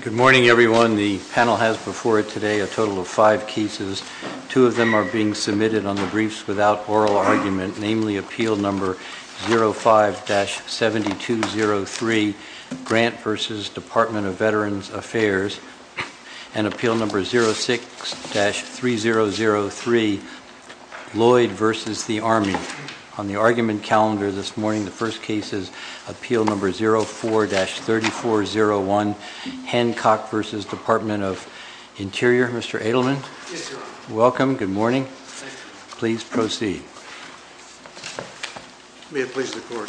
Good morning, everyone. The panel has before it today a total of five cases. Two of them are being submitted on the Briefs Without Oral Argument, namely Appeal No. 05-7203, Grant v. Department of Veterans Affairs, and Appeal No. 06-3003, Lloyd v. the Army. On the Briefs Without Oral Argument, we have Appeal No. 05-3401, Hancock v. Department of Interior. Mr. Adelman? Yes, Your Honor. Welcome. Good morning. Thank you. Please proceed. May it please the Court.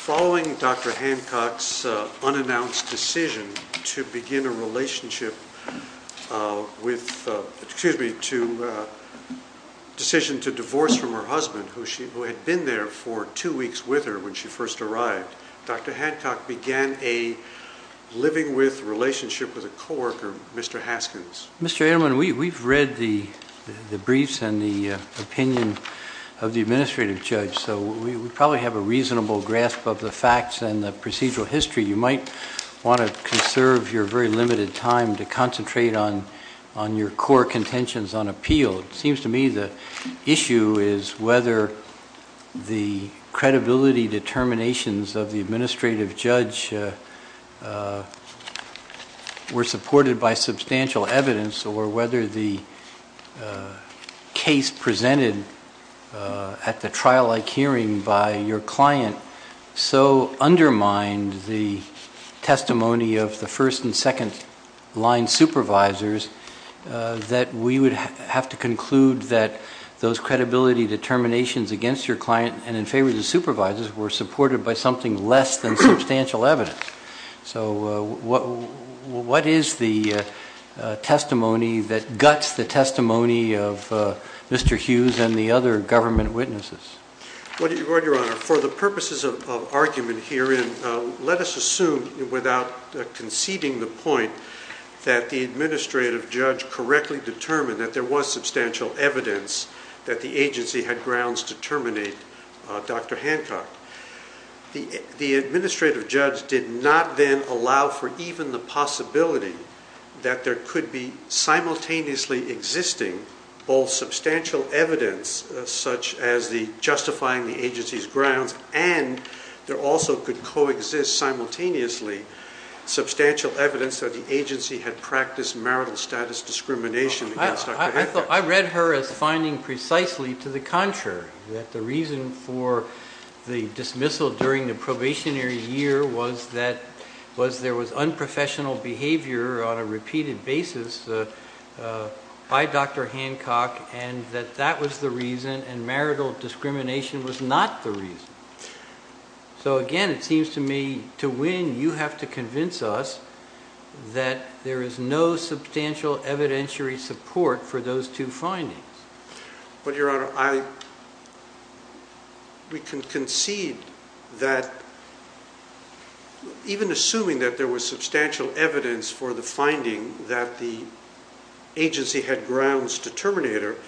Following Dr. Hancock's unannounced decision to begin a relationship with, excuse me, to, decision to divorce from her husband, who had been there for two weeks with her when she first arrived, Dr. Hancock began a living with relationship with a coworker, Mr. Haskins. Mr. Adelman, we've read the briefs and the opinion of the administrative judge, so we probably have a reasonable grasp of the facts and the procedural history. You might want to conserve your very limited time to concentrate on your core contentions on me. The issue is whether the credibility determinations of the administrative judge were supported by substantial evidence or whether the case presented at the trial-like hearing by your client so undermined the testimony of the first and second-line supervisors that we would have to conclude that those credibility determinations against your client and in favor of the supervisors were supported by something less than substantial evidence. So what is the testimony that guts the testimony of Mr. Hughes and the other government witnesses? Your Honor, for the purposes of argument herein, let us assume, without conceding the point, that the administrative judge correctly determined that there was substantial evidence that the agency had grounds to terminate Dr. Hancock. The administrative judge did not then allow for even the possibility that there could be simultaneously existing both substantial evidence such as the justifying the agency's grounds and there also could coexist simultaneously substantial evidence that the agency had practiced marital status discrimination. I read her as finding precisely to the contrary that the reason for the dismissal during the probationary year was that was there was unprofessional behavior on a repeated basis by Dr. Hancock and that that was the reason and marital discrimination was not the reason. So again, it seems to me, to win, you have to convince us that there is no substantial evidentiary support for those two findings. But Your Honor, we can concede that even assuming that there was substantial evidence for the finding that the agency had grounds to terminate Dr. Hancock,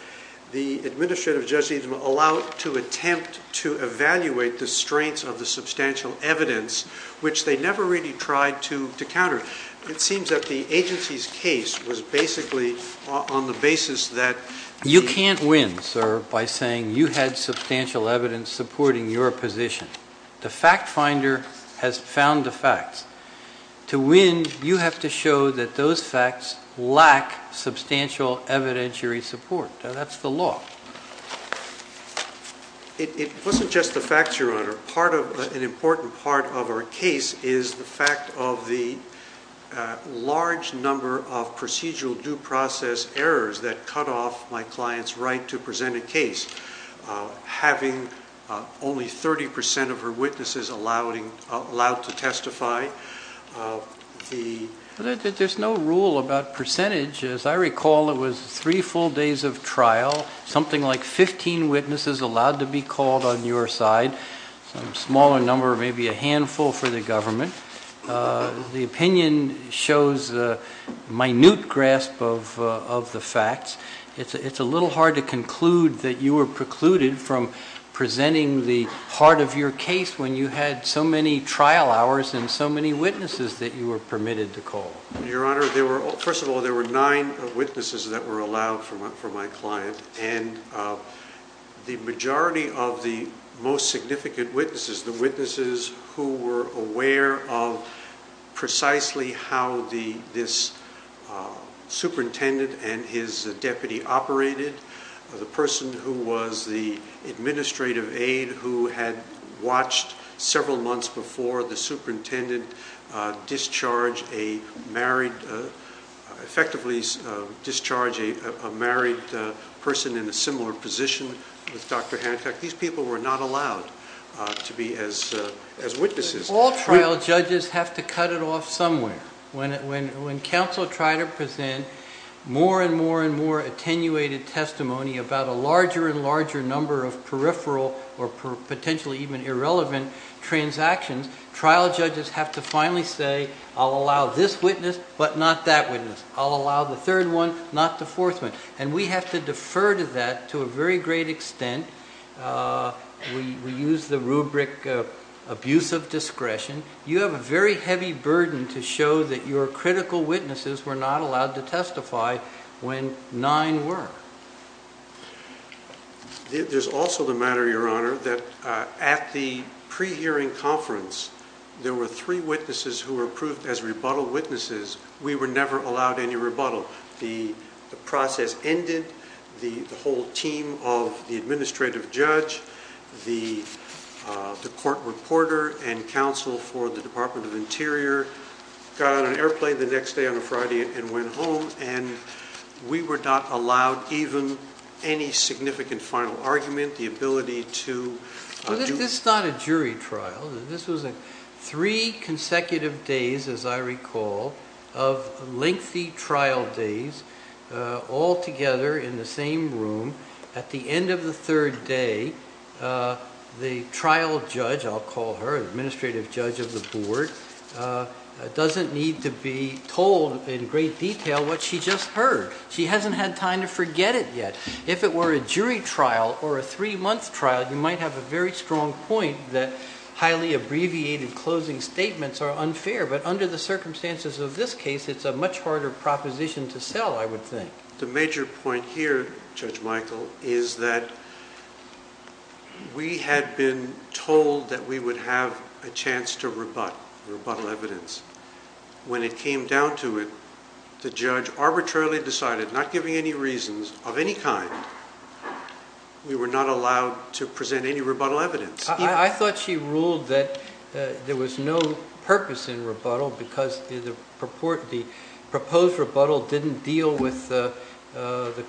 it seems that the agency's case was basically on the basis that... You can't win, sir, by saying you had substantial evidence supporting your position. The fact finder has found the facts. To win, you have to show that those facts lack substantial evidentiary support. That's the law. It wasn't just the facts, Your Honor. An important part of our case is the fact of the large number of procedural due process errors that cut off my client's right to present a case, having only 30% of her witnesses allowed to testify. There's no rule about percentage. As I recall, it was three full days of trial, something like 15 witnesses allowed to be called on your side, some smaller number, maybe a handful for the government. The opinion shows a minute grasp of the facts. It's a little hard to conclude that you were precluded from presenting the part of your case when you had so many trial hours and so many witnesses that you were permitted to call. Your Honor, first of all, there were nine witnesses that were allowed for my client. The majority of the most significant witnesses, the witnesses who were aware of precisely how this superintendent and his deputy operated, the person who was the administrative aide who had watched several months before the superintendent discharge a married, effectively discharge a married person in a similar position with Dr. Hancock. These people were not allowed to be as witnesses. All trial judges have to cut it off somewhere. When counsel try to present more and more and more attenuated testimony about a larger and larger number of peripheral or potentially even irrelevant transactions, trial judges have to finally say, I'll allow this witness, but not that witness. I'll allow the third one, not the fourth one. And we have to defer to that to a very great extent. We use the rubric of abuse of discretion. You have a very heavy burden to show that your critical witnesses were not allowed to testify when nine were. There's also the matter, your Honor, that at the pre-hearing conference, there were three witnesses who were approved as rebuttal witnesses. We were never allowed any rebuttal. The process ended. The whole team of the administrative judge, the court reporter and counsel for the Department of Interior got on an airplane the next day on a Friday and went home, and we were not allowed even any significant final argument, the ability to... This is not a jury trial. This was a three consecutive days, as I recall, of lengthy trial days all together in the same room. At the end of the third day, the trial judge, I'll call her, the administrative judge of the board, doesn't need to be told in great detail what she just heard. She hasn't had time to forget it yet. If it were a jury trial or a three-month trial, you might have a very strong point that highly abbreviated closing statements are unfair, but under the circumstances of this case, it's a much harder proposition to sell, I would think. The major point here, Judge Michael, is that we had been told that we would have a chance to rebut rebuttal evidence. When it came down to it, the judge arbitrarily decided, not giving any reasons of any kind, we were not allowed to present any rebuttal evidence. I thought she ruled that there was no purpose in rebuttal because the proposed rebuttal didn't deal with the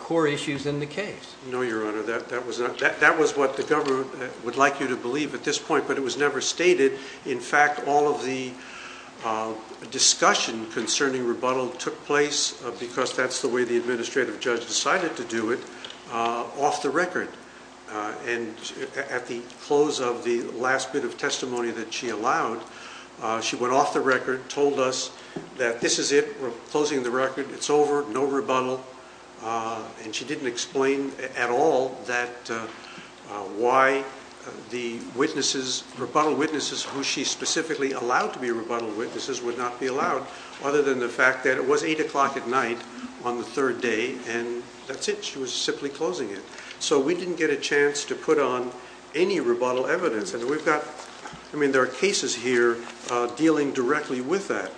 core issues in the case. No, Your Honor. That was what the government would like you to believe at this point, but it was never stated. In fact, all of the discussion concerning rebuttal took place, because that's the way the administrative judge decided to do it, off the record. At the close of the last bit of testimony that she allowed, she went off the record, told us that this is it, we're closing the record, it's over, no rebuttal, and she didn't explain at all why the rebuttal witnesses who she specifically allowed to be rebuttal witnesses would not be allowed, other than the fact that it was eight o'clock at night on the third day, and that's it. She was simply closing it. So we didn't get a chance to put on any rebuttal evidence. I mean, there are cases here dealing directly with that.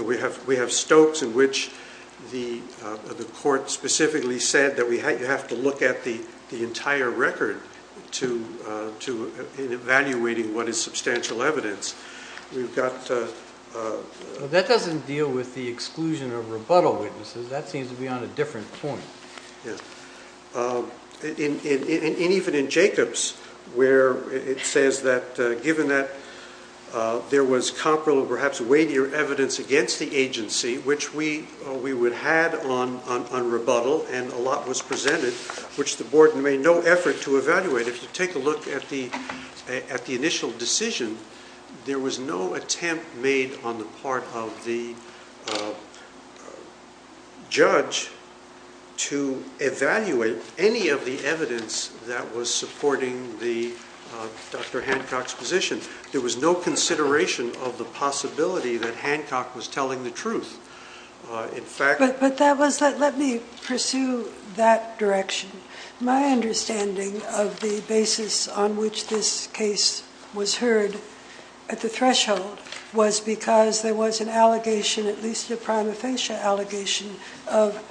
We have Stokes in which the court specifically said that you have to look at the entire record to evaluating what is substantial evidence. That doesn't deal with the exclusion of rebuttal witnesses. That seems to be on a different point. Even in Jacobs, where it says that given that there was comparable, perhaps weightier, evidence against the agency, which we would have on rebuttal, and a lot was presented, which the board made no effort to evaluate. If you take a look at the initial decision, there was no attempt made on the part of the judge to evaluate any of the evidence that was supporting Dr. Hancock's position. There was no consideration of the court's intention to evaluate the evidence that was presented to the board, and there was no Hancock's position. So if you pursue that direction, my understanding of the basis on which this case was heard at the threshold was because there was an allegation, at least a prima facie allegation, of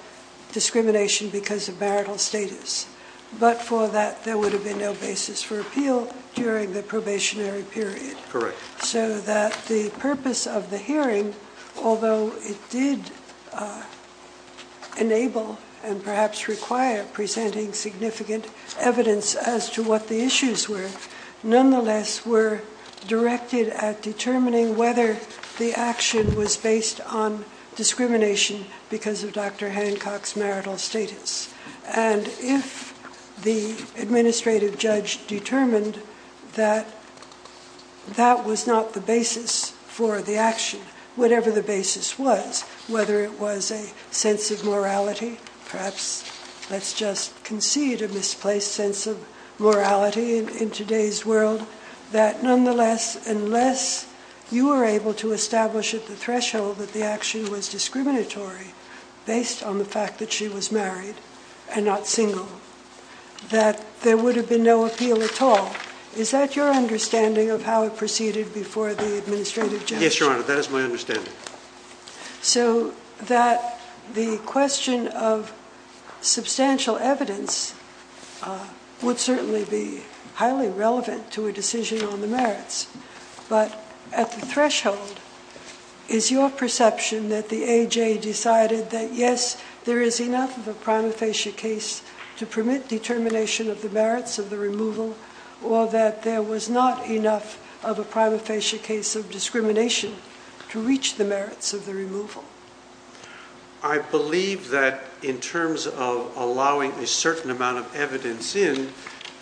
discrimination because of marital status. But for that, there would have been no basis for appeal during the probationary period. Correct. So that the purpose of the hearing, although it did enable and perhaps require presenting significant evidence as to what the issues were, nonetheless were directed at determining whether the action was based on Dr. Hancock's marital status. And if the administrative judge determined that that was not the basis for the action, whatever the basis was, whether it was a sense of morality, perhaps let's just concede a misplaced sense of morality in today's world, that nonetheless, unless you were able to establish at the threshold that the action was discriminatory based on the fact that she was married and not single, that there would have been no appeal at all. Is that your understanding of how it proceeded before the administrative judge? Yes, Your Honor, that is my understanding. So that the question of substantial evidence would certainly be highly relevant to a decision on the merits. But at the threshold, is your perception that the AJ decided that, yes, there is enough of a prima facie case to permit determination of the merits of the removal, or that there was not enough of a prima facie case of discrimination to reach the merits of the removal? I believe that in terms of allowing a certain amount of evidence in,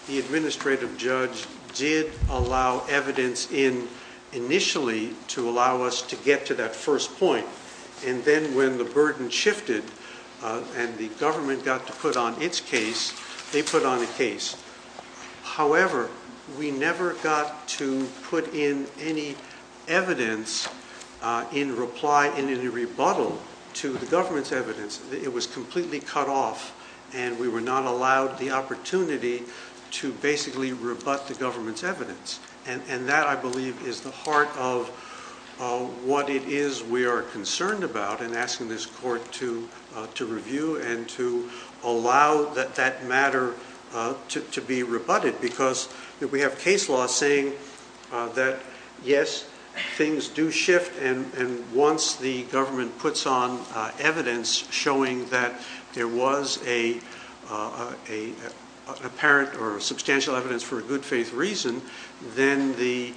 the administrative judge did allow evidence in initially to allow us to get to that first point. And then when the burden shifted, and the government got to put on its case, they put on a case. However, we never got to put in any evidence in reply in any rebuttal to the government's evidence. It was completely cut off. And we were not allowed the opportunity to basically rebut the government's evidence. And that, I believe, is the heart of what it is we are concerned about and asking this court to that, yes, things do shift. And once the government puts on evidence showing that there was a apparent or substantial evidence for a good faith reason, then the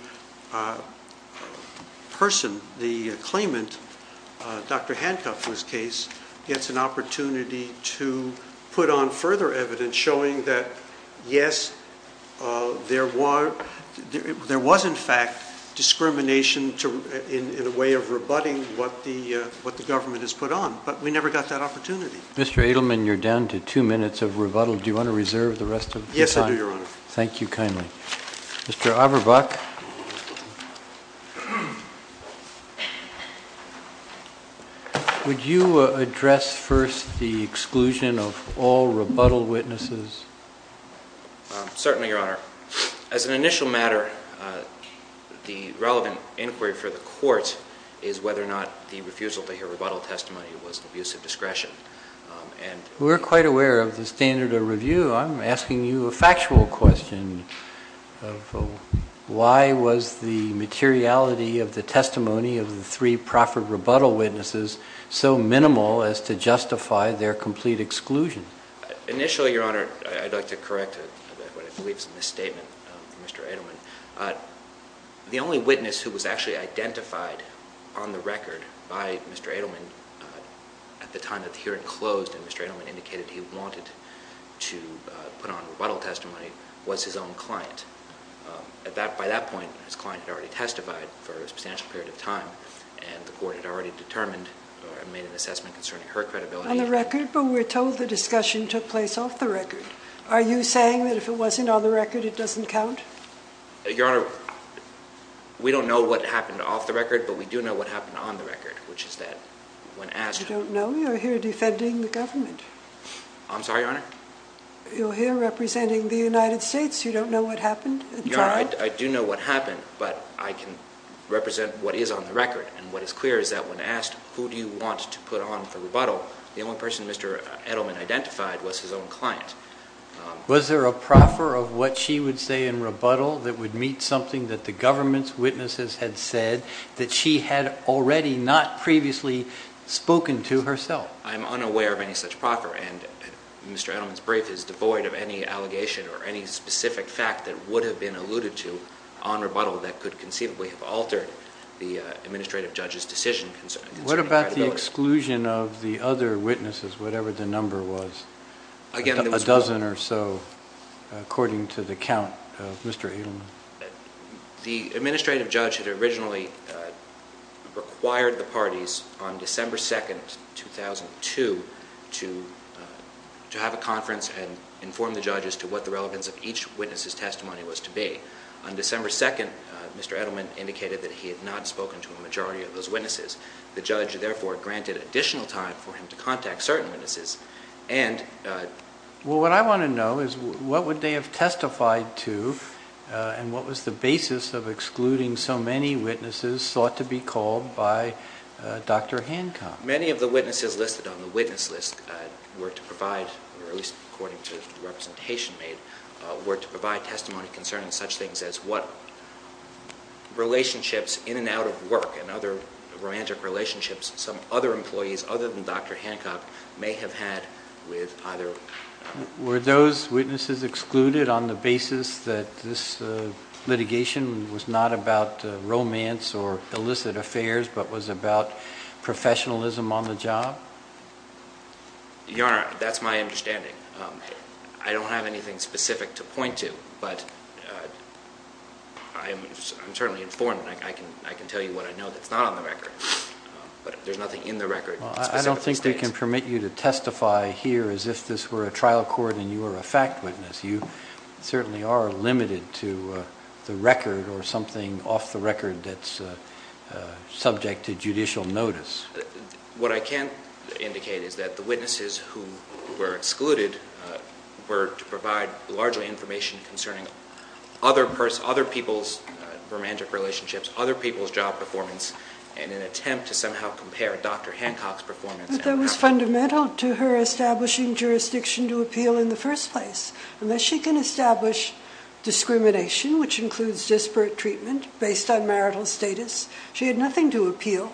person, the claimant, Dr. Hancock, whose case gets an opportunity to put on further evidence showing that, yes, there was in fact discrimination in a way of rebutting what the government has put on. But we never got that opportunity. Mr. Edelman, you're down to two minutes of rebuttal. Do you want to reserve the rest of your time? Yes, I do, Your Honor. Thank you kindly. Mr. Auerbach. Would you address first the exclusion of all rebuttal witnesses? Certainly, Your Honor. As an initial matter, the relevant inquiry for the court is whether or not the refusal to hear rebuttal testimony was an abuse of discretion. We're quite aware of the standard of review. I'm asking you a factual question of why was the materiality of the testimony of the three proffered rebuttal witnesses so minimal as to justify their complete exclusion? Initially, Your Honor, I'd like to correct what I believe is a misstatement of Mr. Edelman. The only witness who was actually identified on the record by Mr. Edelman at the time that the hearing closed and Mr. Edelman indicated he wanted to put on rebuttal testimony was his own client. By that point, his client had already testified for a substantial period of time and the court had already determined or made an assessment concerning her credibility. On the record, but we're told the discussion took place off the record. It doesn't count. Your Honor, we don't know what happened off the record, but we do know what happened on the record, which is that when asked, you don't know you're here defending the government. I'm sorry, Your Honor. You're here representing the United States. You don't know what happened. I do know what happened, but I can represent what is on the record. And what is clear is that when asked, who do you want to put on for rebuttal? The only person Mr. Edelman identified was his own client. Was there a proffer of what she would say in rebuttal that would meet something that the government's witnesses had said that she had already not previously spoken to herself? I'm unaware of any such proffer and Mr. Edelman's brief is devoid of any allegation or any specific fact that would have been alluded to on rebuttal that could conceivably have altered the administrative judge's decision concerning credibility. What about the exclusion of the other witnesses, whatever the number was? A dozen or so, according to the count of Mr. Edelman? The administrative judge had originally required the parties on December 2nd, 2002, to have a conference and inform the judges to what the relevance of each witness's testimony was to be. On December 2nd, Mr. Edelman indicated that he had not spoken to a majority of those witnesses and that he needed additional time for him to contact certain witnesses and... Well, what I want to know is what would they have testified to and what was the basis of excluding so many witnesses sought to be called by Dr. Hancock? Many of the witnesses listed on the witness list were to provide, or at least according to the representation made, were to provide testimony concerning such things as what relationships in and out of work and other romantic relationships, some other employees other than Dr. Hancock may have had with either... Were those witnesses excluded on the basis that this litigation was not about romance or illicit affairs but was about professionalism on the job? Your Honor, that's my understanding. I don't have anything specific to point to, but I'm certainly informed. I can tell you what I know that's not on the record, but there's nothing in the record. I don't think we can permit you to testify here as if this were a trial court and you were a fact witness. You certainly are limited to the record or something off the record that's subject to judicial notice. What I can indicate is that the witnesses who were excluded were to provide largely information concerning other people's romantic relationships, other people's job performance, in an attempt to somehow compare Dr. Hancock's performance... That was fundamental to her establishing jurisdiction to appeal in the first place. Unless she can establish discrimination, which includes disparate treatment based on marital status, she had nothing to appeal,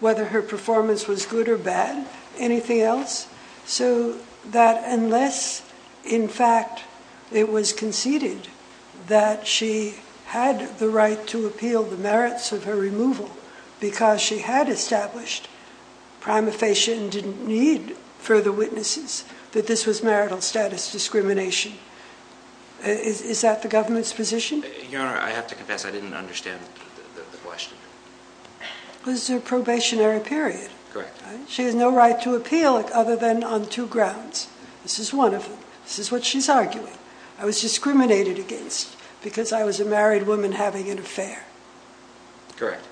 whether her performance was good or bad, anything else. So that unless, in fact, it was conceded that she had the right to appeal the merits of her removal because she had established prima facie and didn't need further witnesses, that this was marital status discrimination. Is that the government's position? Your Honor, I have to confess I didn't understand the question. It was a probationary period. Correct. She has no right to appeal other than on two grounds. This is one of them. This is what she's arguing. I was discriminated against because I was a married woman having an affair. Correct.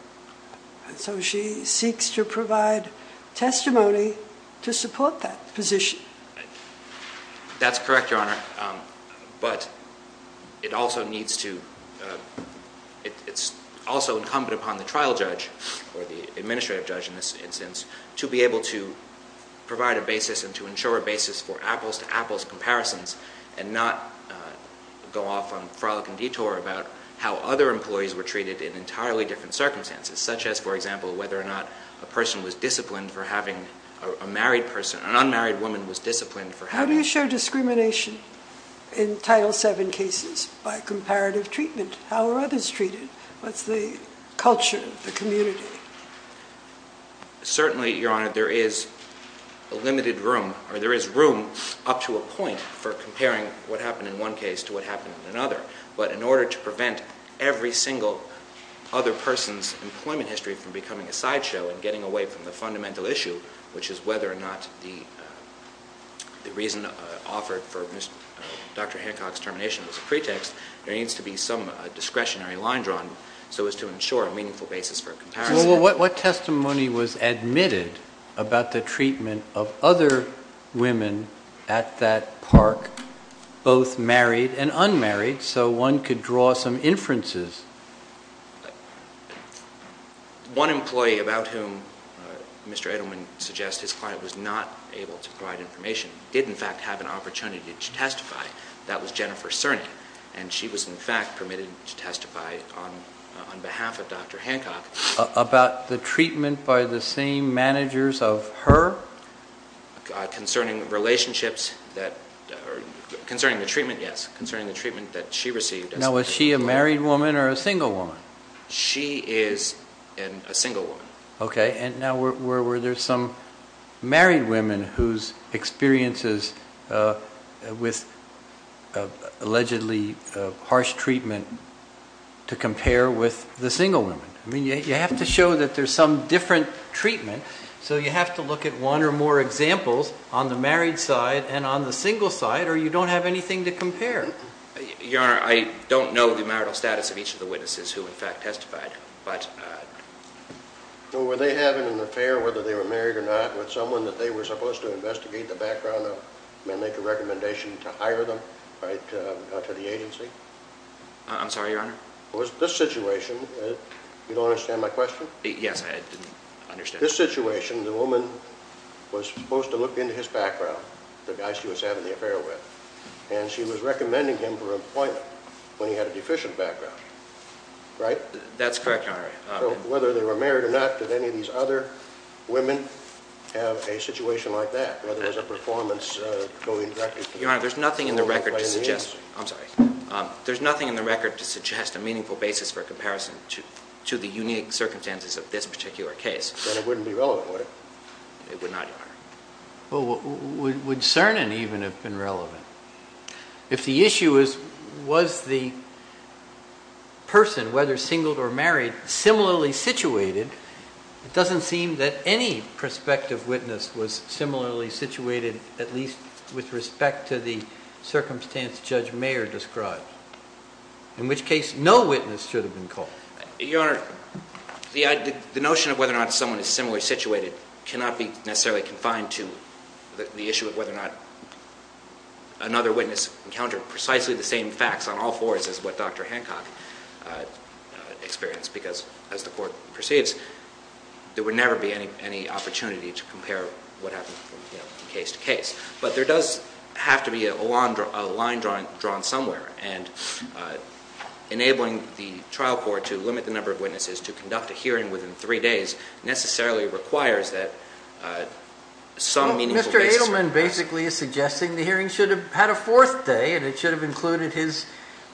So she seeks to provide testimony to support that position. That's correct, Your Honor, but it's also incumbent upon the trial judge, or the administrative judge in this instance, to be able to provide a basis and to ensure a basis for apples-to-apples comparisons and not go off on frolic and detour about how other employees were treated in entirely different circumstances, such as, for example, whether or not a person was disciplined for having a married person, an unmarried woman was disciplined for having... How do you show discrimination in Title VII cases by comparative treatment? How are others treated? What's the culture, the community? Certainly, Your Honor, there is a limited room, or there is room up to a point for comparing what happened in one case to what happened in another, but in order to prevent every single other person's employment history from becoming a sideshow and getting away from the fundamental issue, which is whether or not the reason offered for Dr. Hancock's termination was a pretext, there needs to be some discretionary line drawn so as to ensure a meaningful basis for comparison. What testimony was admitted about the treatment of other women at that park, both married and unmarried, so one could draw some inferences? One employee, about whom Mr. Edelman suggests his client was not able to provide information, did, in fact, have an opportunity to testify. That was Jennifer Cerny, and she was, in fact, permitted to testify on behalf of Dr. Hancock. About the treatment by the same managers of her? Concerning relationships that... Concerning the treatment, yes. Concerning the treatment that she received... Now, was she a married woman or a single woman? She is a single woman. Okay, and now were there some married women whose experiences with allegedly harsh treatment to compare with the single women? I mean, you have to show that there's some different treatment, so you have to look at one or more examples on the married side and on the single side, or you don't have anything to compare. Your Honor, I don't know the marital status of each of the witnesses who, in fact, testified, but... Were they having an affair, whether they were married or not, with someone that they were supposed to investigate the background of and make a recommendation to hire them to the agency? I'm sorry, Your Honor? Was this situation... You don't understand my question? Yes, I understand. This situation, the woman was supposed to look into his background, the guy she was having the affair with, and she was recommending him for employment when he had a deficient background, right? That's correct, Your Honor. Whether they were married or not, did any of these other women have a situation like that, whether it was a performance going directly... Your Honor, there's nothing in the record to suggest... I'm sorry. There's nothing in the record to suggest a meaningful basis for a comparison to the unique circumstances of this particular case. Then it wouldn't be relevant, would it? It would not, Your Honor. Well, would Cernan even have been relevant? If the issue is, was the person, whether singled or married, similarly situated, it doesn't seem that any prospective witness was similarly situated, at least with respect to the circumstance Judge Mayer described, in which case no witness should have been called. Your Honor, the notion of whether or not someone is similarly situated cannot be necessarily confined to the issue of whether or not another witness encountered precisely the same facts on all fours as what Dr. Hancock experienced, because as the court proceeds, there would never be any opportunity to compare what happened from case to case. But there does have to be a line drawn somewhere, and enabling the trial court to limit the number of witnesses to conduct a hearing within three days necessarily requires that some meaningful basis for comparison. Well, Mr. Adelman basically is suggesting the hearing should have had a fourth day, and it should have included his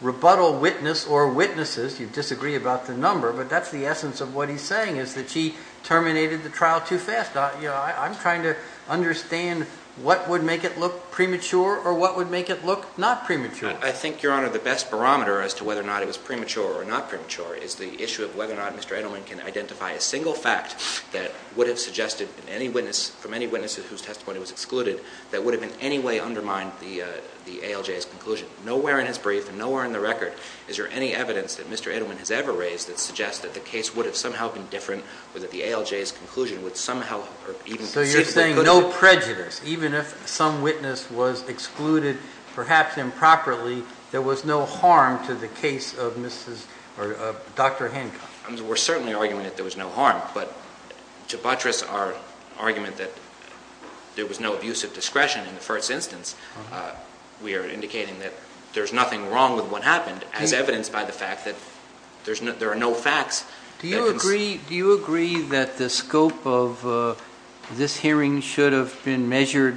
rebuttal witness or witnesses. You disagree about the number, but that's the essence of what he's saying, is that he terminated the trial too fast. I'm trying to understand what would make it look premature or what would make it look not premature. I think, Your Honor, the best barometer as to whether or not it was premature or not Mr. Adelman can identify a single fact that would have suggested from any witness whose testimony was excluded that would have in any way undermined the ALJ's conclusion. Nowhere in his brief and nowhere in the record is there any evidence that Mr. Adelman has ever raised that suggests that the case would have somehow been different or that the ALJ's conclusion would somehow have even succeeded. So you're saying no prejudice, even if some witness was excluded, perhaps improperly, there was no harm to the case of Dr. Hancock? We're certainly arguing that there was no harm, but to buttress our argument that there was no abusive discretion in the first instance, we are indicating that there's nothing wrong with what happened as evidenced by the fact that there are no facts. Do you agree that the scope of this hearing should have been measured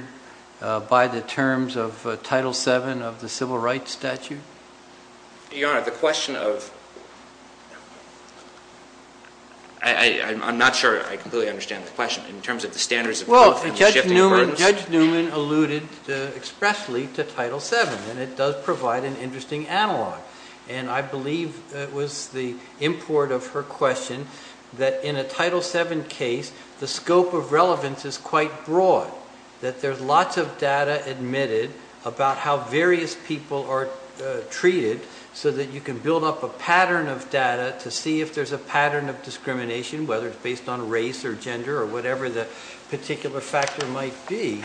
by the terms of the Civil Rights Statute? Your Honor, the question of, I'm not sure I completely understand the question in terms of the standards of shifting burdens. Judge Newman alluded expressly to Title VII, and it does provide an interesting analog. And I believe it was the import of her question that in a Title VII case, the scope of relevance is quite broad, that there's lots of data admitted about how various people are treated so that you can build up a pattern of data to see if there's a pattern of discrimination, whether it's based on race or gender or whatever the particular factor might be.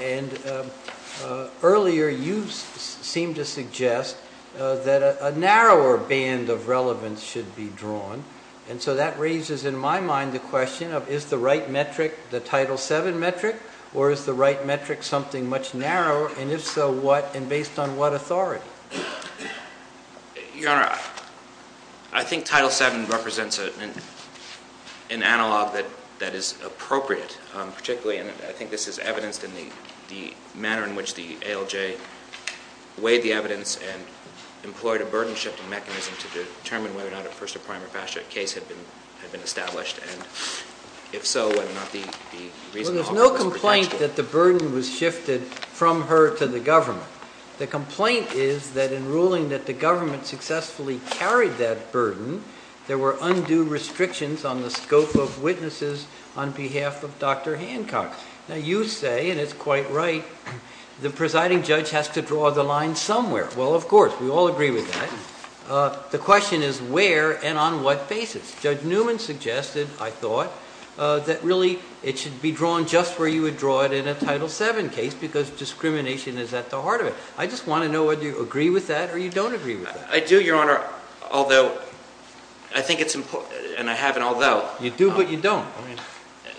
And earlier, you seemed to suggest that a narrower band of relevance should be drawn. And so that raises in my mind the question of, is the right metric the Title VII metric, or is the right metric something much narrower? And if so, what and based on what authority? Your Honor, I think Title VII represents an analog that is appropriate, particularly, and I think this is evidenced in the manner in which the ALJ weighed the evidence and employed a burden-shifting mechanism to determine whether or not a first-or-prime or past-judge case had been established, and if so, whether or not the reason to offer this protection. Well, there's no complaint that the burden was shifted from her to the government. The complaint is that in ruling that the government successfully carried that burden, there were undue restrictions on the scope of witnesses on behalf of Dr. Hancock. Now, you say, and it's quite right, the presiding judge has to draw the line somewhere. Well, of course, we all agree with that. The question is where and on what basis? Judge Newman suggested, I thought, that really it should be drawn just where you would draw it in a Title VII case, because discrimination is at the heart of it. I just want to know whether you agree with that or you don't agree with that. I do, Your Honor, although I think it's important, and I have an although. You do, but you don't.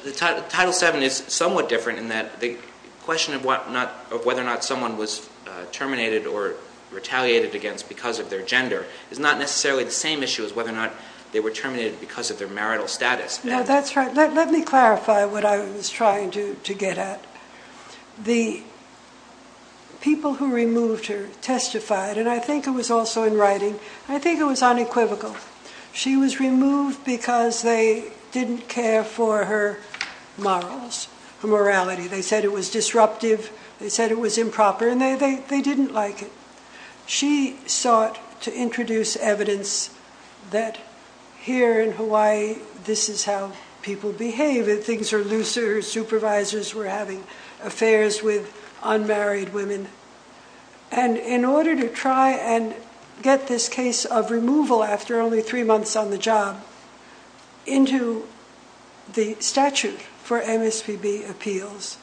The Title VII is somewhat different in that the question of whether or not someone was retaliated against because of their gender is not necessarily the same issue as whether or not they were terminated because of their marital status. Now, that's right. Let me clarify what I was trying to get at. The people who removed her testified, and I think it was also in writing. I think it was unequivocal. She was removed because they didn't care for her morals, her morality. They said it was disruptive. They said it was improper, and they didn't like it. She sought to introduce evidence that here in Hawaii, this is how people behave. Things are looser. Supervisors were having affairs with unmarried women. In order to try and get this case of removal after only three months on the job into the statute for MSPB appeals,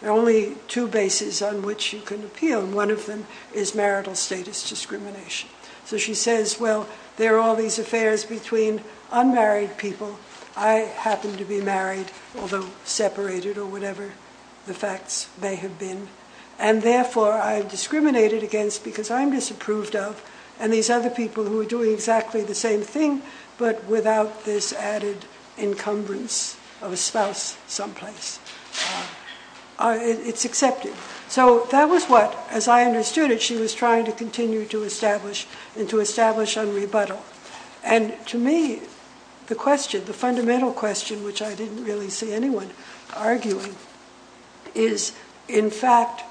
there are only two bases on which you can appeal. One of them is marital status discrimination. So she says, well, there are all these affairs between unmarried people. I happen to be married, although separated or whatever the facts may have been. Therefore, I'm discriminated against because I'm disapproved of, and these other people who are doing exactly the same thing, but without this added encumbrance of a spouse someplace, it's accepted. So that was what, as I understood it, she was trying to continue to establish and to establish on rebuttal. And to me, the question, the fundamental question, which I didn't really see anyone arguing, is, in fact,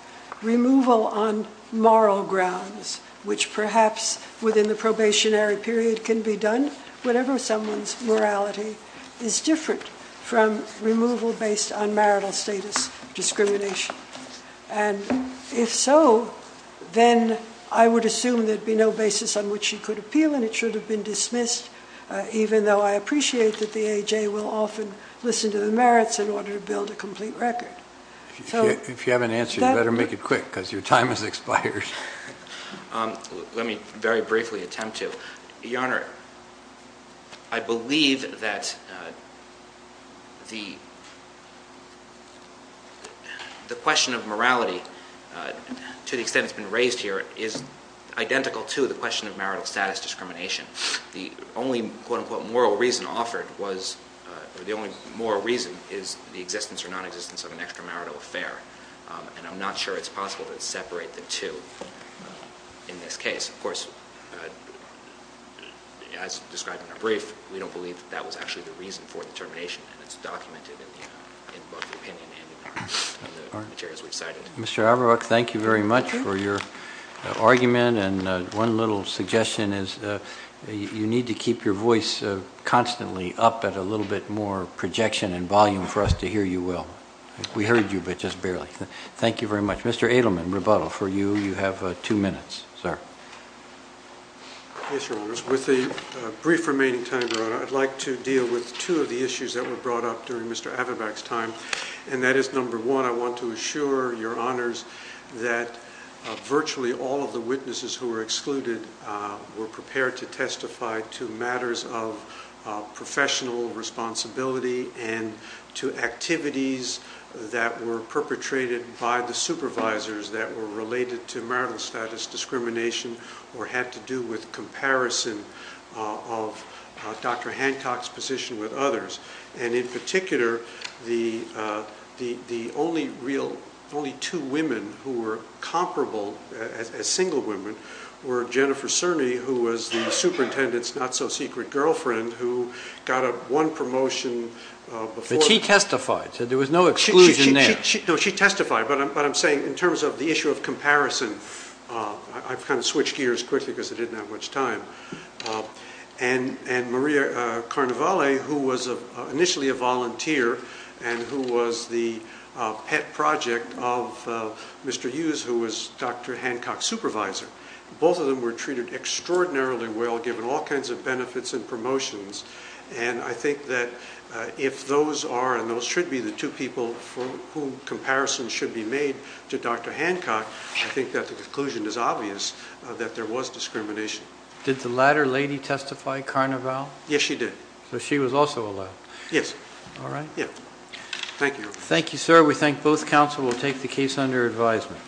removal on moral grounds, which perhaps within the probationary period can be done. Whatever someone's morality is different from removal based on marital status discrimination. And if so, then I would assume there'd be no basis on which she could appeal, and it should have been dismissed, even though I appreciate that the AJ will often listen to the merits in order to build a complete record. If you have an answer, you better make it quick, because your time has expired. Let me very briefly attempt to. Your Honor, I believe that the question of morality, to the extent it's been raised here, is identical to the question of marital status discrimination. The only, quote unquote, moral reason offered was, or the only moral reason, is the existence or nonexistence of an extramarital affair. And I'm not sure it's possible to separate the two in this case. Of course, as described in our brief, we don't believe that that was actually the reason for the termination, and it's documented in both the opinion and in the materials we've cited. Mr. Averbach, thank you very much for your argument. And one little suggestion is you need to keep your voice constantly up at a little bit more projection and volume for us to hear you well. We heard you, but just barely. Thank you very much. Mr. Adelman, rebuttal for you. You have two minutes, sir. Yes, Your Honors. With the brief remaining time, Your Honor, I'd like to deal with two of the issues that were brought up during Mr. Averbach's time. And that is, number one, I want to assure Your Honors that virtually all of the witnesses who were excluded were prepared to testify to matters of professional responsibility and to activities that were perpetrated by the supervisors that were related to marital status discrimination or had to do with comparison of Dr. Hancock's position with others. And in particular, the only two women who were comparable as single women were Jennifer Cerny, who was the superintendent's not-so-secret girlfriend, who got one promotion before— But she testified. There was no exclusion there. No, she testified. But I'm saying, in terms of the issue of comparison, I've kind of switched gears quickly because I didn't have much time. And Maria Carnevale, who was initially a volunteer and who was the pet project of Mr. Hughes, who was Dr. Hancock's supervisor, both of them were treated extraordinarily well, given all kinds of benefits and promotions. And I think that if those are and those should be the two people for whom comparison should be made to Dr. Hancock, I think that the conclusion is obvious that there was discrimination. Did the latter lady testify, Carnevale? Yes, she did. So she was also allowed? Yes. All right. Yeah. Thank you. Thank you, sir. We thank both counsel. We'll take the case under advisement.